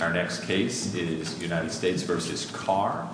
Our next case is United States v. Carr.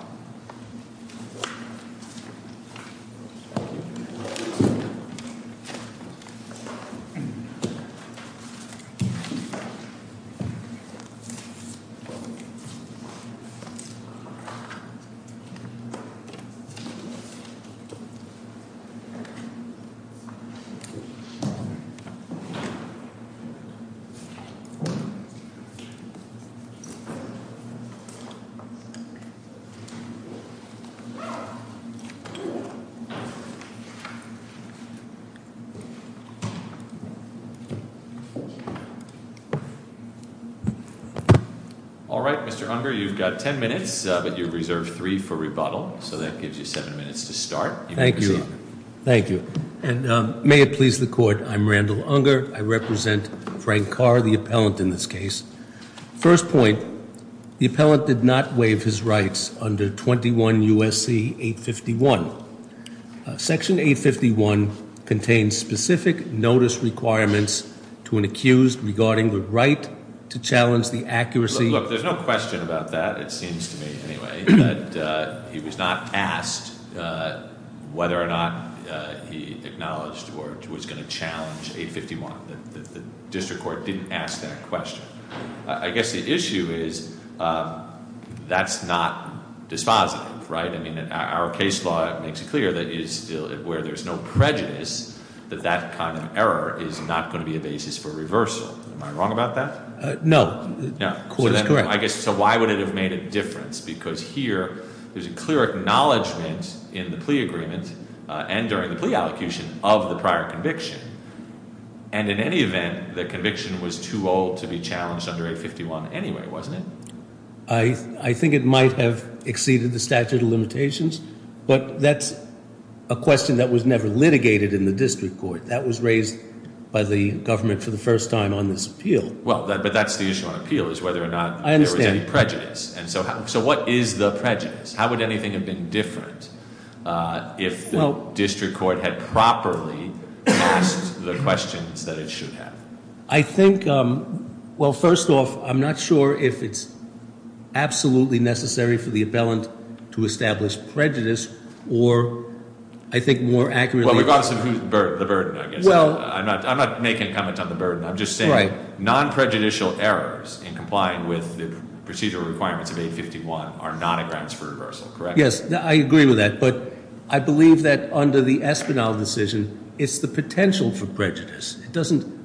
All right, Mr. Unger, you've got ten minutes, but you've reserved three for rebuttal. So that gives you seven minutes to start. Thank you. Thank you. And may it please the court, I'm Randall Unger. I represent Frank Carr, the appellant in this case. First point, the appellant did not waive his rights under 21 U.S.C. 851. Section 851 contains specific notice requirements to an accused regarding the right to challenge the accuracy. Look, there's no question about that, it seems to me, anyway, that he was not asked whether or not he acknowledged or was going to challenge 851. The district court didn't ask that question. I guess the issue is that's not dispositive, right? I mean, our case law makes it clear that where there's no prejudice, that that kind of error is not going to be a basis for reversal. Am I wrong about that? No. The court is correct. I guess, so why would it have made a difference? Because here, there's a clear acknowledgment in the plea agreement and during the plea allocution of the prior conviction, and in any event, the conviction was too old to be challenged under 851 anyway, wasn't it? I think it might have exceeded the statute of limitations, but that's a question that was never litigated in the district court. That was raised by the government for the first time on this appeal. Well, but that's the issue on appeal, is whether or not there was any prejudice. So what is the prejudice? How would anything have been different if the district court had properly asked the questions that it should have? I think, well, first off, I'm not sure if it's absolutely necessary for the appellant to establish prejudice, or I think more accurately- Well, we've also, the burden, I guess, I'm not making comments on the burden. I'm just saying, non-prejudicial errors in complying with the procedural requirements of 851 are not a grounds for reversal, correct? Yes, I agree with that, but I believe that under the Espinal decision, it's the potential for prejudice.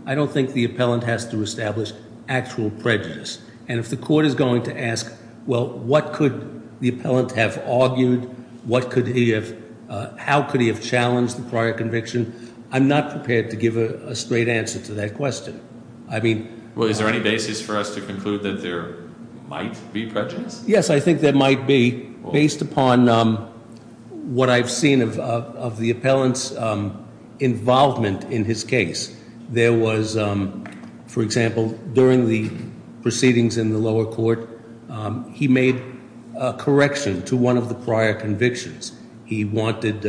I don't think the appellant has to establish actual prejudice. And if the court is going to ask, well, what could the appellant have argued? How could he have challenged the prior conviction? I'm not prepared to give a straight answer to that question. I mean- Well, is there any basis for us to conclude that there might be prejudice? Yes, I think there might be, based upon what I've seen of the appellant's involvement in his case. There was, for example, during the proceedings in the lower court, he made a correction to one of the prior convictions. He wanted,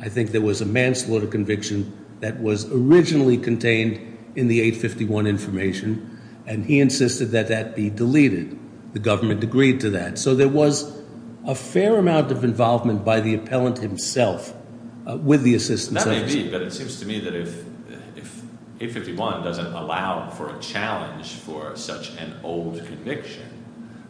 I think there was a manslaughter conviction that was originally contained in the 851 information. And he insisted that that be deleted. The government agreed to that. So there was a fair amount of involvement by the appellant himself with the assistance of- That may be, but it seems to me that if 851 doesn't allow for a challenge for such an old conviction,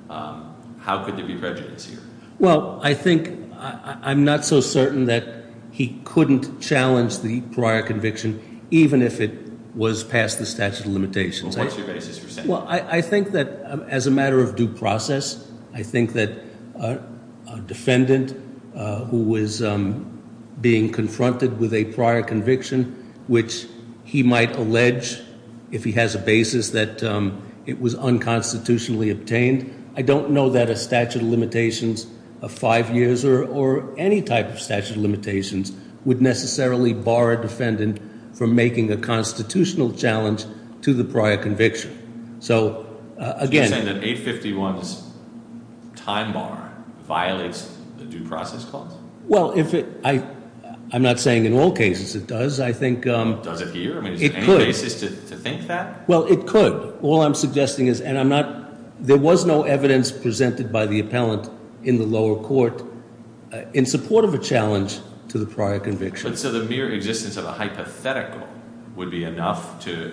how could there be prejudice here? Well, I think, I'm not so certain that he couldn't challenge the prior conviction, even if it was past the statute of limitations. What's your basis for saying that? Well, I think that as a matter of due process, I think that a defendant who was being confronted with a prior conviction, which he might allege, if he has a basis, that it was unconstitutionally obtained. I don't know that a statute of limitations of five years or any type of statute of limitations would necessarily bar a defendant from making a constitutional challenge to the prior conviction. So again- You're saying that 851's time bar violates the due process clause? Well, I'm not saying in all cases it does. I think- Does it here? I mean, is there any basis to think that? Well, it could. All I'm suggesting is, and I'm not, there was no evidence presented by the appellant in the lower court in support of a challenge to the prior conviction. So the mere existence of a hypothetical would be enough to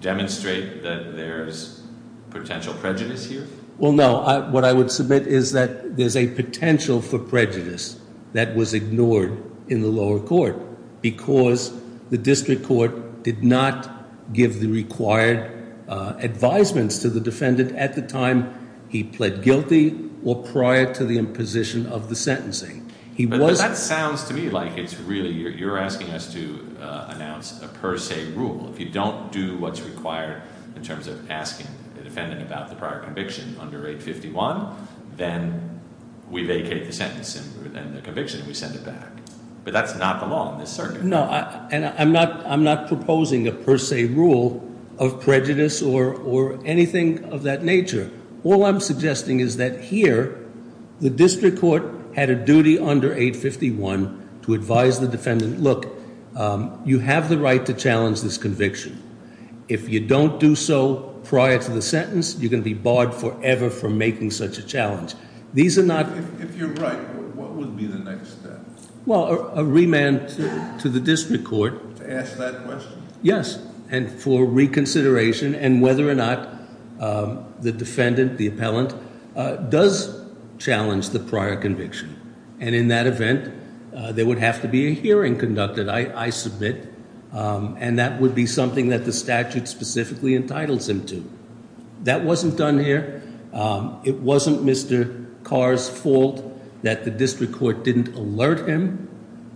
demonstrate that there's potential prejudice here? Well, no. What I would submit is that there's a potential for prejudice that was ignored in the lower court. Because the district court did not give the required advisements to the defendant at the time he pled guilty or prior to the imposition of the sentencing. He was- That sounds to me like it's really, you're asking us to announce a per se rule. If you don't do what's required in terms of asking the defendant about the prior conviction under 851, then we vacate the sentence and the conviction and we send it back. But that's not the law in this circuit. No, and I'm not proposing a per se rule of prejudice or anything of that nature. All I'm suggesting is that here, the district court had a duty under 851 to advise the defendant, look, you have the right to challenge this conviction. If you don't do so prior to the sentence, you're going to be barred forever from making such a challenge. These are not- If you're right, what would be the next step? A remand to the district court. To ask that question? Yes, and for reconsideration and whether or not the defendant, the appellant, does challenge the prior conviction. And in that event, there would have to be a hearing conducted, I submit. And that would be something that the statute specifically entitles him to. That wasn't done here. It wasn't Mr. Carr's fault that the district court didn't alert him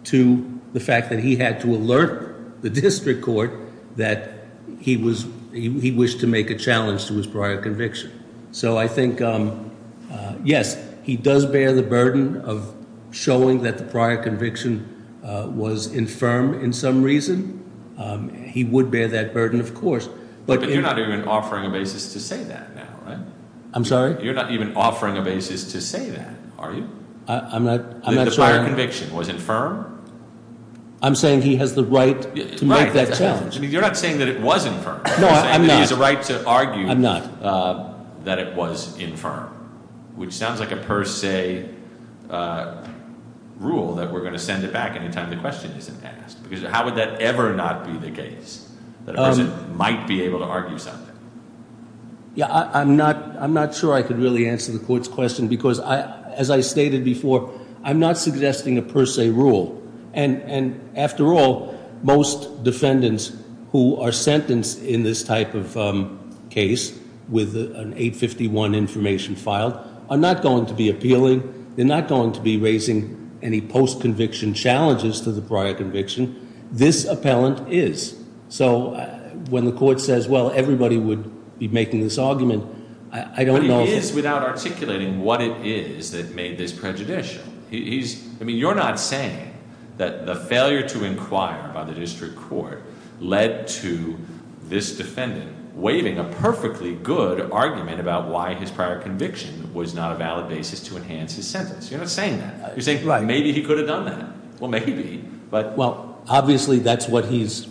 to the fact that he had to alert the district court that he wished to make a challenge to his prior conviction. So I think, yes, he does bear the burden of showing that the prior conviction was infirm in some reason. He would bear that burden, of course. But you're not even offering a basis to say that now, right? I'm sorry? You're not even offering a basis to say that, are you? I'm not sure. The prior conviction was infirm? I'm saying he has the right to make that challenge. I mean, you're not saying that it was infirm. No, I'm not. You're saying that he has a right to argue that it was infirm. Which sounds like a per se rule that we're going to send it back anytime the question isn't asked. Because how would that ever not be the case, that a person might be able to argue something? Yeah, I'm not sure I could really answer the court's question, because as I stated before, I'm not suggesting a per se rule. And after all, most defendants who are sentenced in this type of case with an 851 information filed are not going to be appealing. They're not going to be raising any post-conviction challenges to the prior conviction. This appellant is. So when the court says, well, everybody would be making this argument, I don't know- But he is without articulating what it is that made this prejudicial. I mean, you're not saying that the failure to inquire by the district court led to this defendant waving a perfectly good argument about why his prior conviction was not a valid basis to enhance his sentence. You're not saying that. You're saying, maybe he could have done that. Well, maybe, but- Well, obviously, that's what he's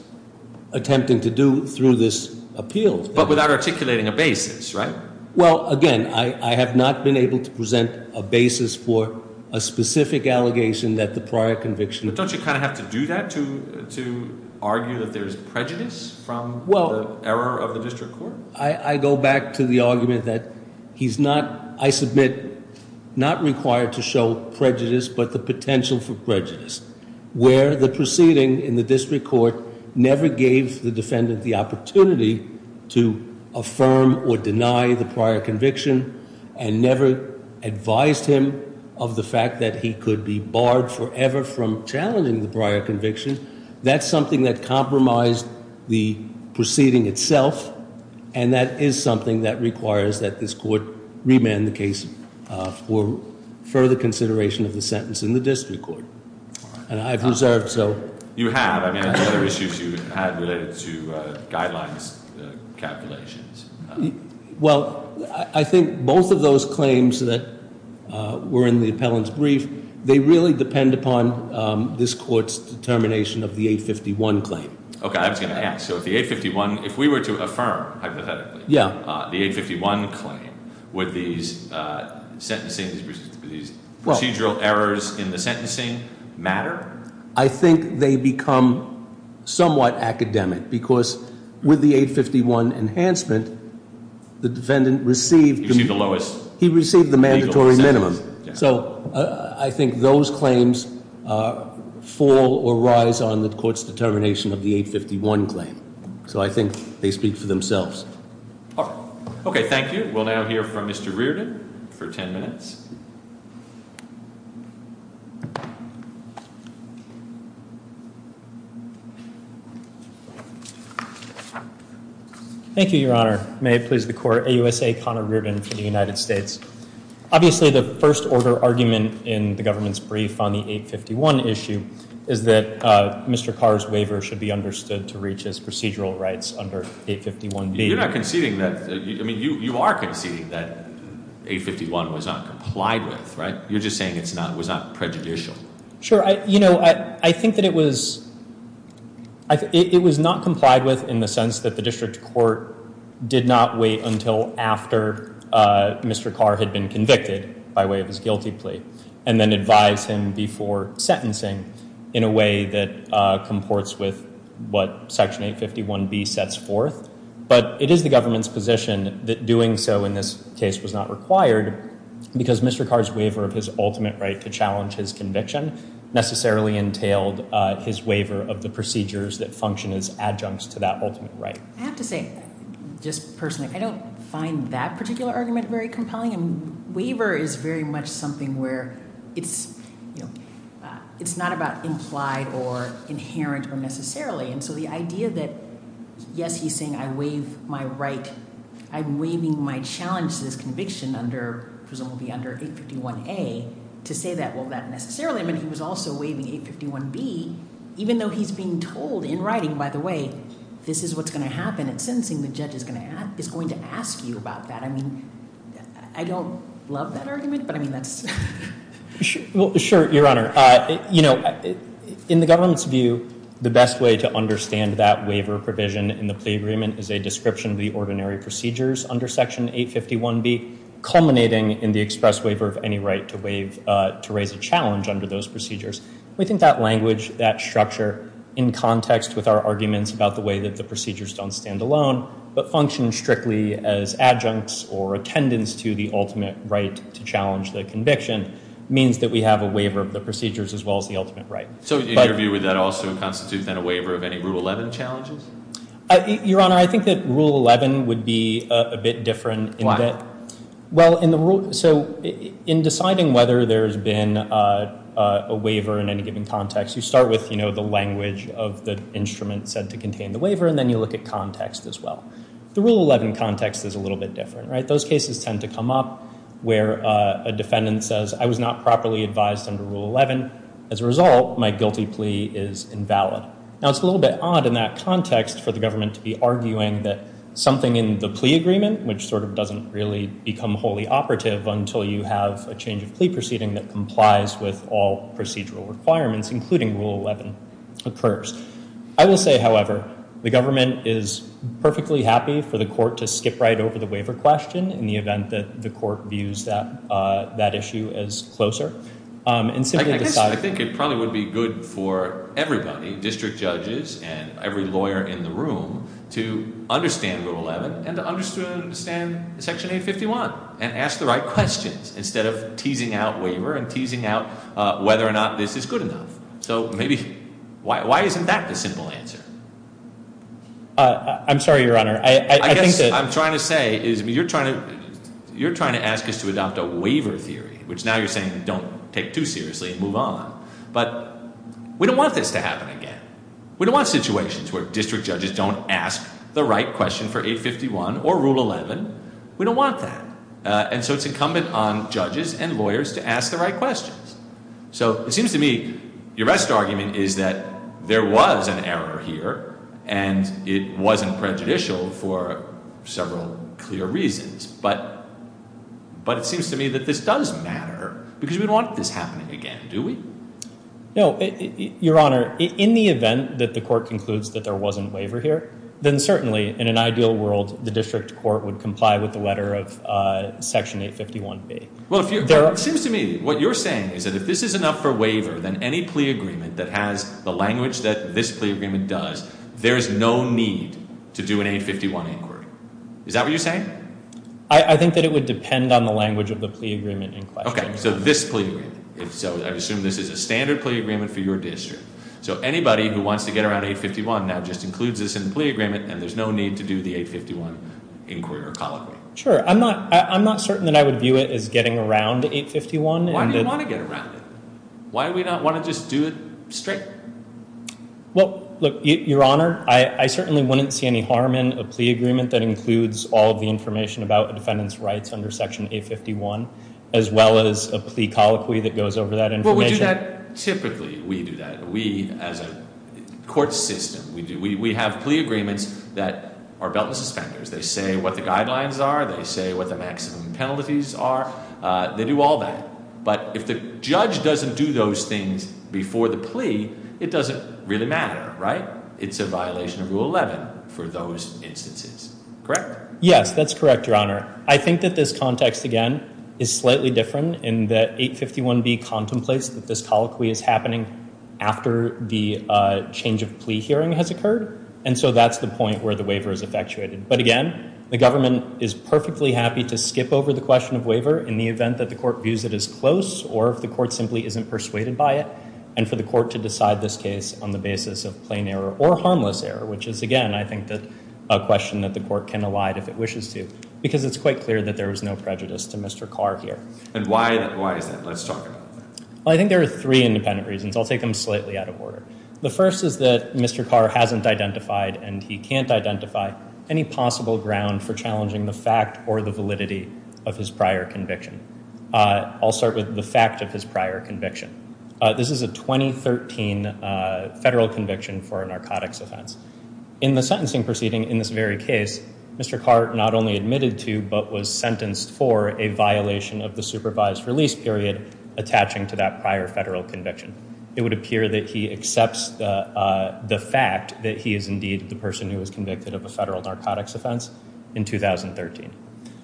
attempting to do through this appeal. But without articulating a basis, right? Well, again, I have not been able to present a basis for a specific allegation that the prior conviction- But don't you kind of have to do that to argue that there's prejudice from the error of the district court? I go back to the argument that he's not, I submit, not required to show prejudice, but the potential for prejudice. Where the proceeding in the district court never gave the defendant the opportunity to affirm or deny the prior conviction, and never advised him of the fact that he could be barred forever from challenging the prior conviction. That's something that compromised the proceeding itself, and that is something that requires that this court remand the case for further consideration of the sentence in the district court, and I've reserved so- You have, I mean, other issues you had related to guidelines calculations. Well, I think both of those claims that were in the appellant's brief, they really depend upon this court's determination of the 851 claim. Okay, I was going to ask, so if the 851, if we were to affirm, hypothetically- Yeah. The 851 claim, would these sentencing, these procedural errors in the sentencing matter? I think they become somewhat academic, because with the 851 enhancement, the defendant received- He received the lowest- He received the mandatory minimum. So I think those claims fall or rise on the court's determination of the 851 claim, so I think they speak for themselves. All right, okay, thank you. We'll now hear from Mr. Reardon for ten minutes. Thank you, Your Honor. May it please the court, AUSA Connor Reardon for the United States. Obviously, the first order argument in the government's brief on the 851 issue is that Mr. Carr's waiver should be understood to reach his procedural rights under 851B. You're not conceding that, I mean, you are conceding that 851 was not complied with, right? You're just saying it was not prejudicial. Sure, I think that it was not complied with in the sense that the district court did not wait until after Mr. Carr had been convicted by way of his guilty plea, and then advise him before sentencing in a way that comports with what section 851B sets forth. But it is the government's position that doing so in this case was not required because Mr. Carr's waiver of his ultimate right to challenge his conviction necessarily entailed his waiver of the procedures that function as adjuncts to that ultimate right. I have to say, just personally, I don't find that particular argument very compelling. Waiver is very much something where it's not about implied or inherent or necessarily. And so the idea that, yes, he's saying I'm waiving my right, I'm waiving my challenge to this conviction under, presumably under 851A, to say that. Well, not necessarily, but he was also waiving 851B, even though he's being told in writing, by the way, this is what's going to happen at sentencing, the judge is going to ask you about that. I mean, I don't love that argument, but I mean, that's. Sure, your honor. In the government's view, the best way to understand that waiver provision in the plea agreement is a description of the ordinary procedures under section 851B, culminating in the express waiver of any right to raise a challenge under those procedures. We think that language, that structure, in context with our arguments about the way that the procedures don't stand alone, but function strictly as adjuncts or attendants to the ultimate right to challenge the conviction, means that we have a waiver of the procedures as well as the ultimate right. So in your view, would that also constitute, then, a waiver of any Rule 11 challenges? Your honor, I think that Rule 11 would be a bit different. Why? Well, so in deciding whether there's been a waiver in any given context, you start with the language of the instrument said to contain the waiver, and then you look at context as well. The Rule 11 context is a little bit different, right? Those cases tend to come up where a defendant says, I was not properly advised under Rule 11. As a result, my guilty plea is invalid. Now, it's a little bit odd in that context for the government to be arguing that something in the plea agreement, which sort of doesn't really become wholly operative until you have a change of plea proceeding that complies with all procedural requirements, including Rule 11, occurs. I will say, however, the government is perfectly happy for the court to skip right over the waiver question in the event that the court views that issue as closer. And simply decide- I think it probably would be good for everybody, district judges and every lawyer in the room, to understand Rule 11 and to understand Section 851. And ask the right questions, instead of teasing out waiver and teasing out whether or not this is good enough. So maybe, why isn't that the simple answer? I'm sorry, your honor, I think that- I guess what I'm trying to say is, you're trying to ask us to adopt a waiver theory, which now you're saying don't take too seriously and move on. But we don't want this to happen again. We don't want situations where district judges don't ask the right question for 851 or Rule 11. We don't want that. And so it's incumbent on judges and lawyers to ask the right questions. So it seems to me, your best argument is that there was an error here. And it wasn't prejudicial for several clear reasons. But it seems to me that this does matter, because we want this happening again, do we? No, your honor, in the event that the court concludes that there wasn't a waiver here, then certainly, in an ideal world, the district court would comply with the letter of Section 851B. Well, it seems to me, what you're saying is that if this is enough for waiver than any plea agreement that has the language that this plea agreement does, there is no need to do an 851 inquiry. Is that what you're saying? I think that it would depend on the language of the plea agreement in question. Okay, so this plea, so I assume this is a standard plea agreement for your district. So anybody who wants to get around 851 now just includes this in the plea agreement, and there's no need to do the 851 inquiry or colloquy. Sure, I'm not certain that I would view it as getting around 851. Why do you want to get around it? Why do we not want to just do it straight? Well, look, your honor, I certainly wouldn't see any harm in a plea agreement that includes all of the information about the defendant's rights under Section 851, as well as a plea colloquy that goes over that information. Well, we do that, typically, we do that. We, as a court system, we have plea agreements that are belt and suspenders. They say what the guidelines are, they say what the maximum penalties are, they do all that. But if the judge doesn't do those things before the plea, it doesn't really matter, right? It's a violation of Rule 11 for those instances, correct? Yes, that's correct, your honor. I think that this context, again, is slightly different in that 851B contemplates that this colloquy is happening after the change of plea hearing has occurred. And so that's the point where the waiver is effectuated. But again, the government is perfectly happy to skip over the question of waiver in the event that the court views it as close or if the court simply isn't persuaded by it, and for the court to decide this case on the basis of plain error or harmless error, which is, again, I think a question that the court can elide if it wishes to. Because it's quite clear that there is no prejudice to Mr. Carr here. And why is that? Let's talk about that. Well, I think there are three independent reasons. I'll take them slightly out of order. The first is that Mr. Carr hasn't identified, and he can't identify, any possible ground for challenging the fact or the validity of his prior conviction. I'll start with the fact of his prior conviction. This is a 2013 federal conviction for a narcotics offense. In the sentencing proceeding in this very case, Mr. Carr not only admitted to, but was sentenced for a violation of the supervised release period attaching to that prior federal conviction. It would appear that he accepts the fact that he is indeed the person who was convicted of a federal narcotics offense in 2013.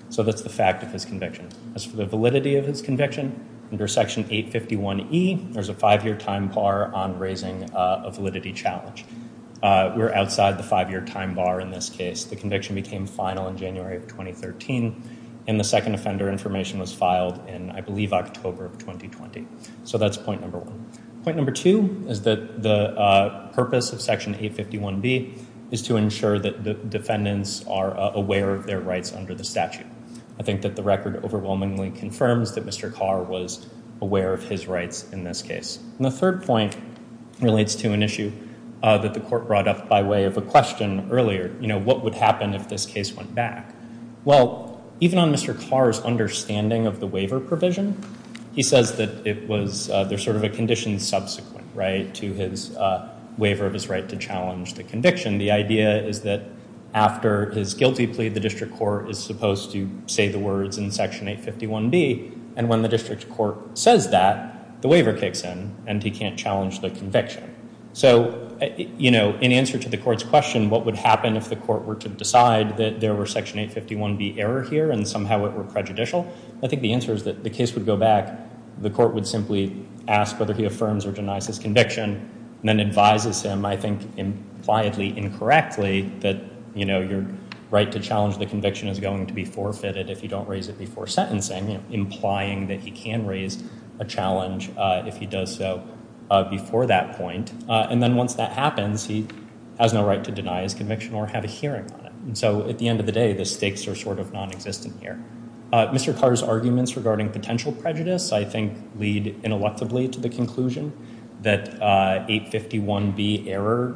So that's the fact of his conviction. As for the validity of his conviction, under Section 851E, there's a five-year time bar on raising a validity challenge. We're outside the five-year time bar in this case. The conviction became final in January of 2013, and the second offender information was filed in, I believe, October of 2020. So that's point number one. Point number two is that the purpose of Section 851B is to ensure that the defendants are aware of their rights under the statute. I think that the record overwhelmingly confirms that Mr. Carr was aware of his rights in this case. And the third point relates to an issue that the court brought up by way of a question earlier, you know, what would happen if this case went back? Well, even on Mr. Carr's understanding of the waiver provision, he says that it was, there's sort of a condition subsequent, right, to his waiver of his right to challenge the conviction. The idea is that after his guilty plea, the district court is supposed to say the words in Section 851B, and when the district court says that, the waiver kicks in, and he can't challenge the conviction. So, you know, in answer to the court's question, what would happen if the court were to decide that there were Section 851B error here and somehow it were prejudicial? I think the answer is that the case would go back, the court would simply ask whether he affirms or denies his conviction, and then advises him, I think, impliedly incorrectly that, you know, your right to challenge the conviction is going to be forfeited if you don't raise it before sentencing, you know, implying that he can raise a challenge if he does so before that point. And then once that happens, he has no right to deny his conviction or have a hearing on it. And so, at the end of the day, the stakes are sort of nonexistent here. Mr. Carr's arguments regarding potential prejudice, I think, lead ineluctably to the conclusion that 851B error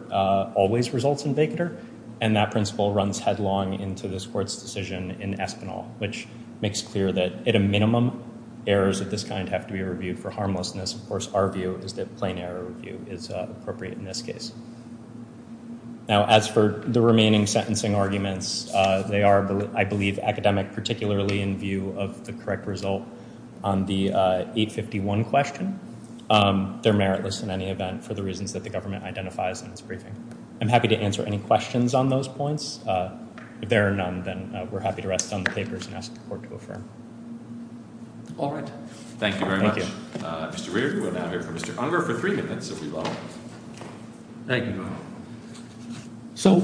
always results in vacater, and that principle runs headlong into this court's decision in Espinal, which makes clear that at a minimum, errors of this kind have to be reviewed for harmlessness. Of course, our view is that plain error review is appropriate in this case. Now, as for the remaining sentencing arguments, they are, I believe, academic, particularly in view of the correct result on the 851 question. They're meritless in any event for the reasons that the government identifies in its briefing. I'm happy to answer any questions on those points. If there are none, then we're happy to rest on the papers and ask the court to affirm. All right. Thank you very much. Thank you. Mr. Reard, we will now hear from Mr. Unger for three minutes, if we'd like. Thank you. So,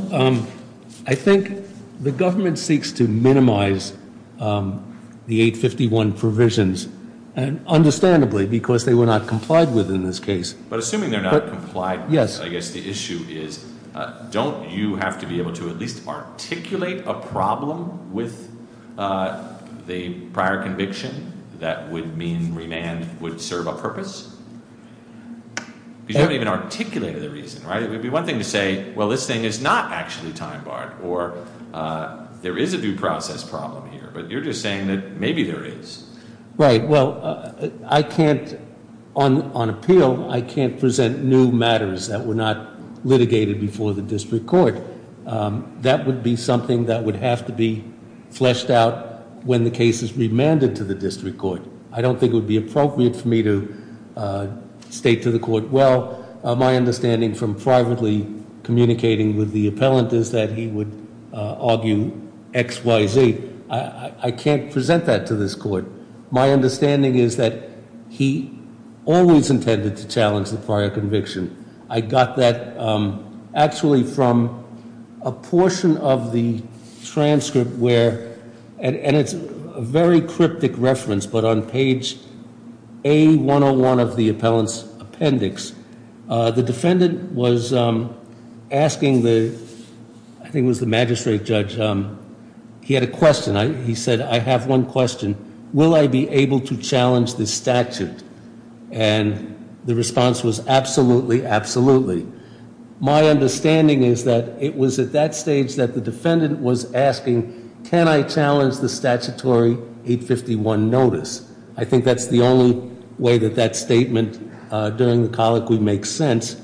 I think the government seeks to minimize the 851 provisions, and understandably, because they were not complied with in this case. But assuming they're not complied with, I guess the issue is, don't you have to be able to at least articulate a problem with the prior conviction that would mean remand would serve a purpose? Because you don't even articulate the reason, right? It would be one thing to say, well, this thing is not actually time-barred, or there is a due process problem here. But you're just saying that maybe there is. Right. Well, on appeal, I can't present new matters that were not litigated before the district court. That would be something that would have to be fleshed out when the case is remanded to the district court. I don't think it would be appropriate for me to state to the court, well, my understanding from privately communicating with the appellant is that he would argue X, Y, Z. I can't present that to this court. My understanding is that he always intended to challenge the prior conviction. I got that actually from a portion of the transcript where, and it's a very cryptic reference, but on page A101 of the appellant's appendix, the defendant was asking the, I think it was the magistrate judge, he had a question. He said, I have one question. Will I be able to challenge this statute? And the response was, absolutely, absolutely. My understanding is that it was at that stage that the defendant was asking, can I challenge the statutory 851 notice? I think that's the only way that that statement during the colloquy makes sense.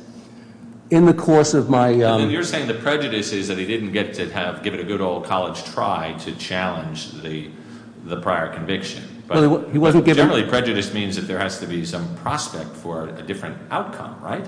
In the course of my- You're saying the prejudice is that he didn't get to give it a good old college try to challenge the prior conviction. He wasn't given- Generally, prejudice means that there has to be some prospect for a different outcome, right?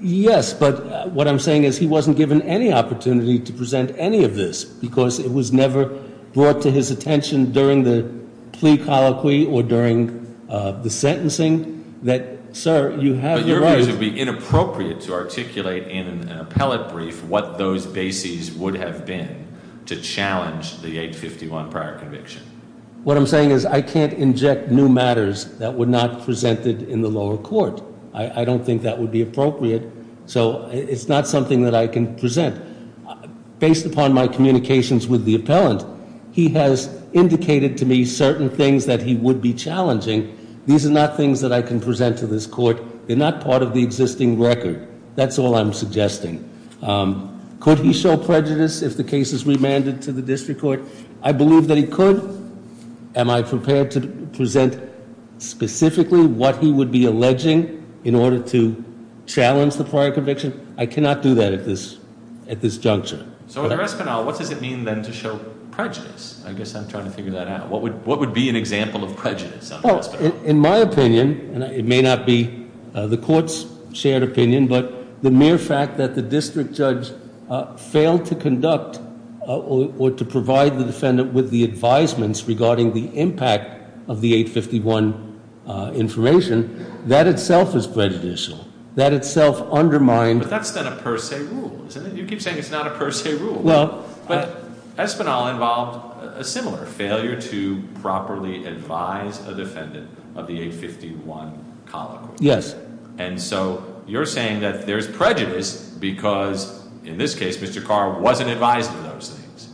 Yes, but what I'm saying is he wasn't given any opportunity to present any of this because it was never brought to his attention during the plea colloquy or during the sentencing that, sir, you have the right- But your view is it would be inappropriate to articulate in an appellate brief what those bases would have been to challenge the 851 prior conviction. What I'm saying is I can't inject new matters that were not presented in the lower court. I don't think that would be appropriate, so it's not something that I can present. Based upon my communications with the appellant, he has indicated to me certain things that he would be challenging. These are not things that I can present to this court. They're not part of the existing record. That's all I'm suggesting. Could he show prejudice if the case is remanded to the district court? I believe that he could. Am I prepared to present specifically what he would be alleging in order to challenge the prior conviction? I cannot do that at this juncture. So under Espinal, what does it mean then to show prejudice? I guess I'm trying to figure that out. What would be an example of prejudice under Espinal? In my opinion, and it may not be the court's shared opinion, but the mere fact that the district judge failed to conduct or to provide the defendant with the advisements regarding the impact of the 851 information, that itself is prejudicial. That itself undermined- But that's not a per se rule, isn't it? You keep saying it's not a per se rule. Well- But Espinal involved a similar failure to properly advise a defendant of the 851 column. Yes. And so you're saying that there's prejudice because, in this case, Mr. Carr wasn't advised of those things.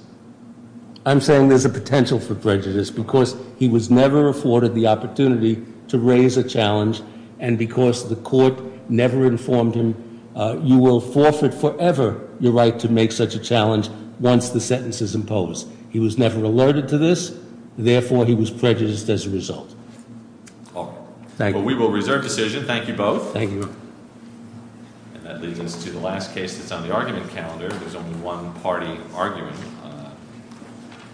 I'm saying there's a potential for prejudice because he was never afforded the opportunity to raise a challenge. And because the court never informed him, you will forfeit forever your right to make such a challenge once the sentence is imposed. He was never alerted to this. Therefore, he was prejudiced as a result. All right. Thank you. We will reserve decision. Thank you both. Thank you. And that leads us to the last case that's on the argument calendar. There's only one party arguing.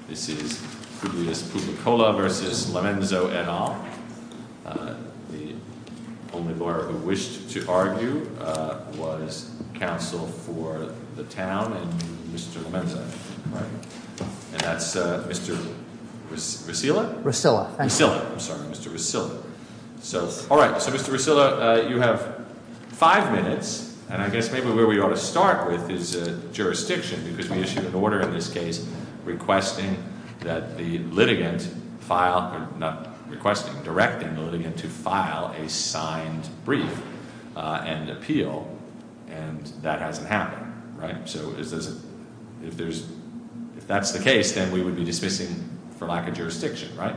This is Publicola v. Lomenzo et al. The only lawyer who wished to argue was counsel for the town and Mr. Lomenzo. And that's Mr. Resilla? Resilla. Resilla. I'm sorry, Mr. Resilla. All right. So, Mr. Resilla, you have five minutes. And I guess maybe where we ought to start with is jurisdiction because we issued an order in this case requesting that the litigant file, not requesting, directing the litigant to file a signed brief and appeal. And that hasn't happened, right? So if that's the case, then we would be dismissing for lack of jurisdiction, right?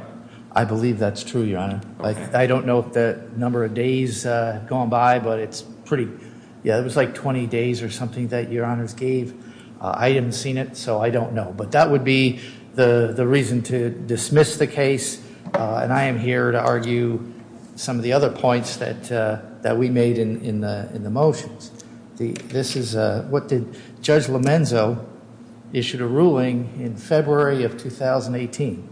I believe that's true, Your Honor. I don't know the number of days going by, but it's pretty, yeah, it was like 20 days or something that Your Honors gave. I haven't seen it, so I don't know. But that would be the reason to dismiss the case. And I am here to argue some of the other points that we made in the motions. This is what did Judge Lomenzo issued a ruling in February of 2018.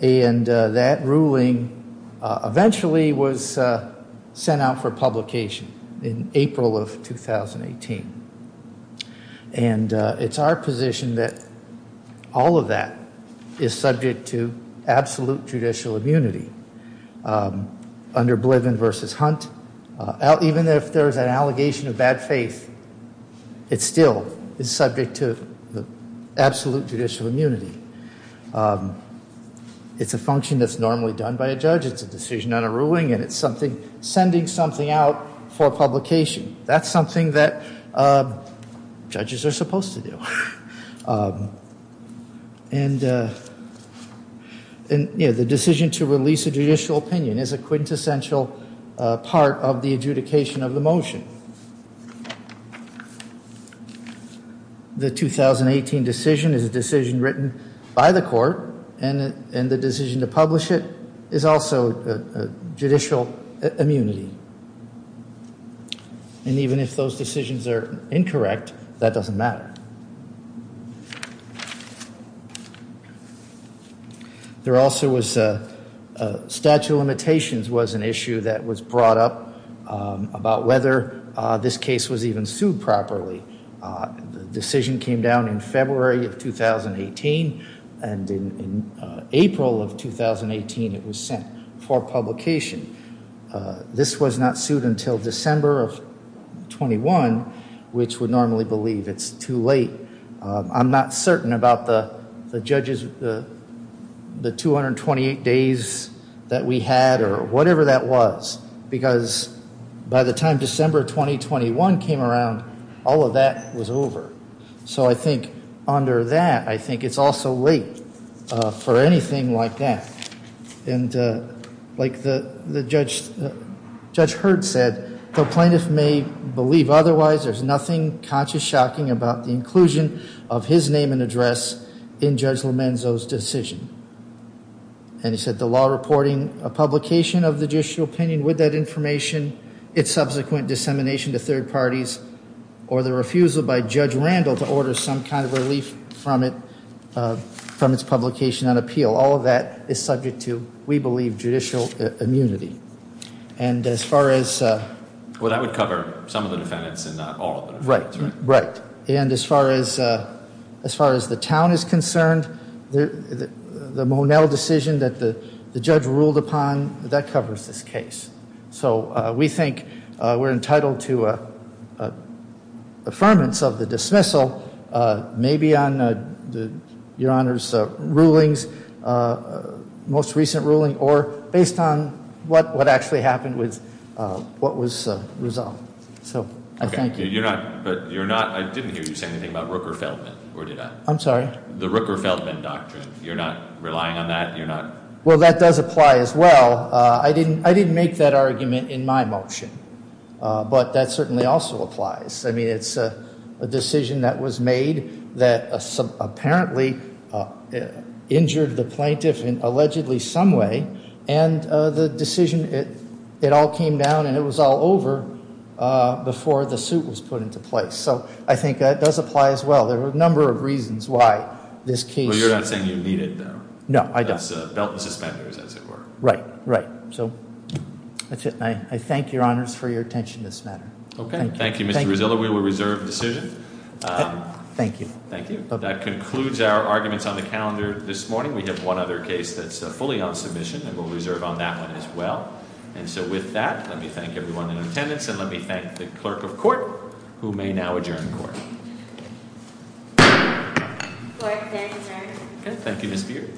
And that ruling eventually was sent out for publication in April of 2018. And it's our position that all of that is subject to absolute judicial immunity under Bliven v. Hunt. Even if there's an allegation of bad faith, it still is subject to absolute judicial immunity. It's a function that's normally done by a judge. It's a decision on a ruling, and it's sending something out for publication. That's something that judges are supposed to do. And, you know, the decision to release a judicial opinion is a quintessential part of the adjudication of the motion. The 2018 decision is a decision written by the court, and the decision to publish it is also judicial immunity. And even if those decisions are incorrect, that doesn't matter. There also was a statute of limitations was an issue that was brought up about whether this case was even sued properly. The decision came down in February of 2018, and in April of 2018, it was sent for publication. This was not sued until December of 21, which would normally believe it's too late. I'm not certain about the judges, the 228 days that we had or whatever that was, because by the time December 2021 came around, all of that was over. So I think under that, I think it's also late for anything like that. And like Judge Hurd said, the plaintiff may believe otherwise. There's nothing conscious shocking about the inclusion of his name and address in Judge Lomenzo's decision. And he said the law reporting a publication of the judicial opinion with that information, its subsequent dissemination to third parties, or the refusal by Judge Randall to order some kind of relief from its publication on appeal, all of that is subject to, we believe, judicial immunity. And as far as- Well, that would cover some of the defendants and not all of the defendants, right? Right. And as far as the town is concerned, the Monell decision that the judge ruled upon, that covers this case. So we think we're entitled to affirmance of the dismissal, maybe on Your Honor's rulings, most recent ruling, or based on what actually happened with what was resolved. So I thank you. Okay, but you're not, I didn't hear you say anything about Rooker-Feldman, or did I? I'm sorry? The Rooker-Feldman doctrine, you're not relying on that? Well, that does apply as well. I didn't make that argument in my motion, but that certainly also applies. I mean, it's a decision that was made that apparently injured the plaintiff in allegedly some way, and the decision, it all came down and it was all over before the suit was put into place. So I think that does apply as well. There are a number of reasons why this case- Well, you're not saying you need it, though. No, I don't. As belt and suspenders, as it were. Right, right. So that's it, and I thank Your Honors for your attention this matter. Okay, thank you, Mr. Rizzillo. We will reserve the decision. Thank you. Thank you. That concludes our arguments on the calendar this morning. We have one other case that's fully on submission, and we'll reserve on that one as well. And so with that, let me thank everyone in attendance, and let me thank the clerk of court, who may now adjourn the court. Clerk, thank you, sir. Good, thank you, Ms. Beard. Thank you.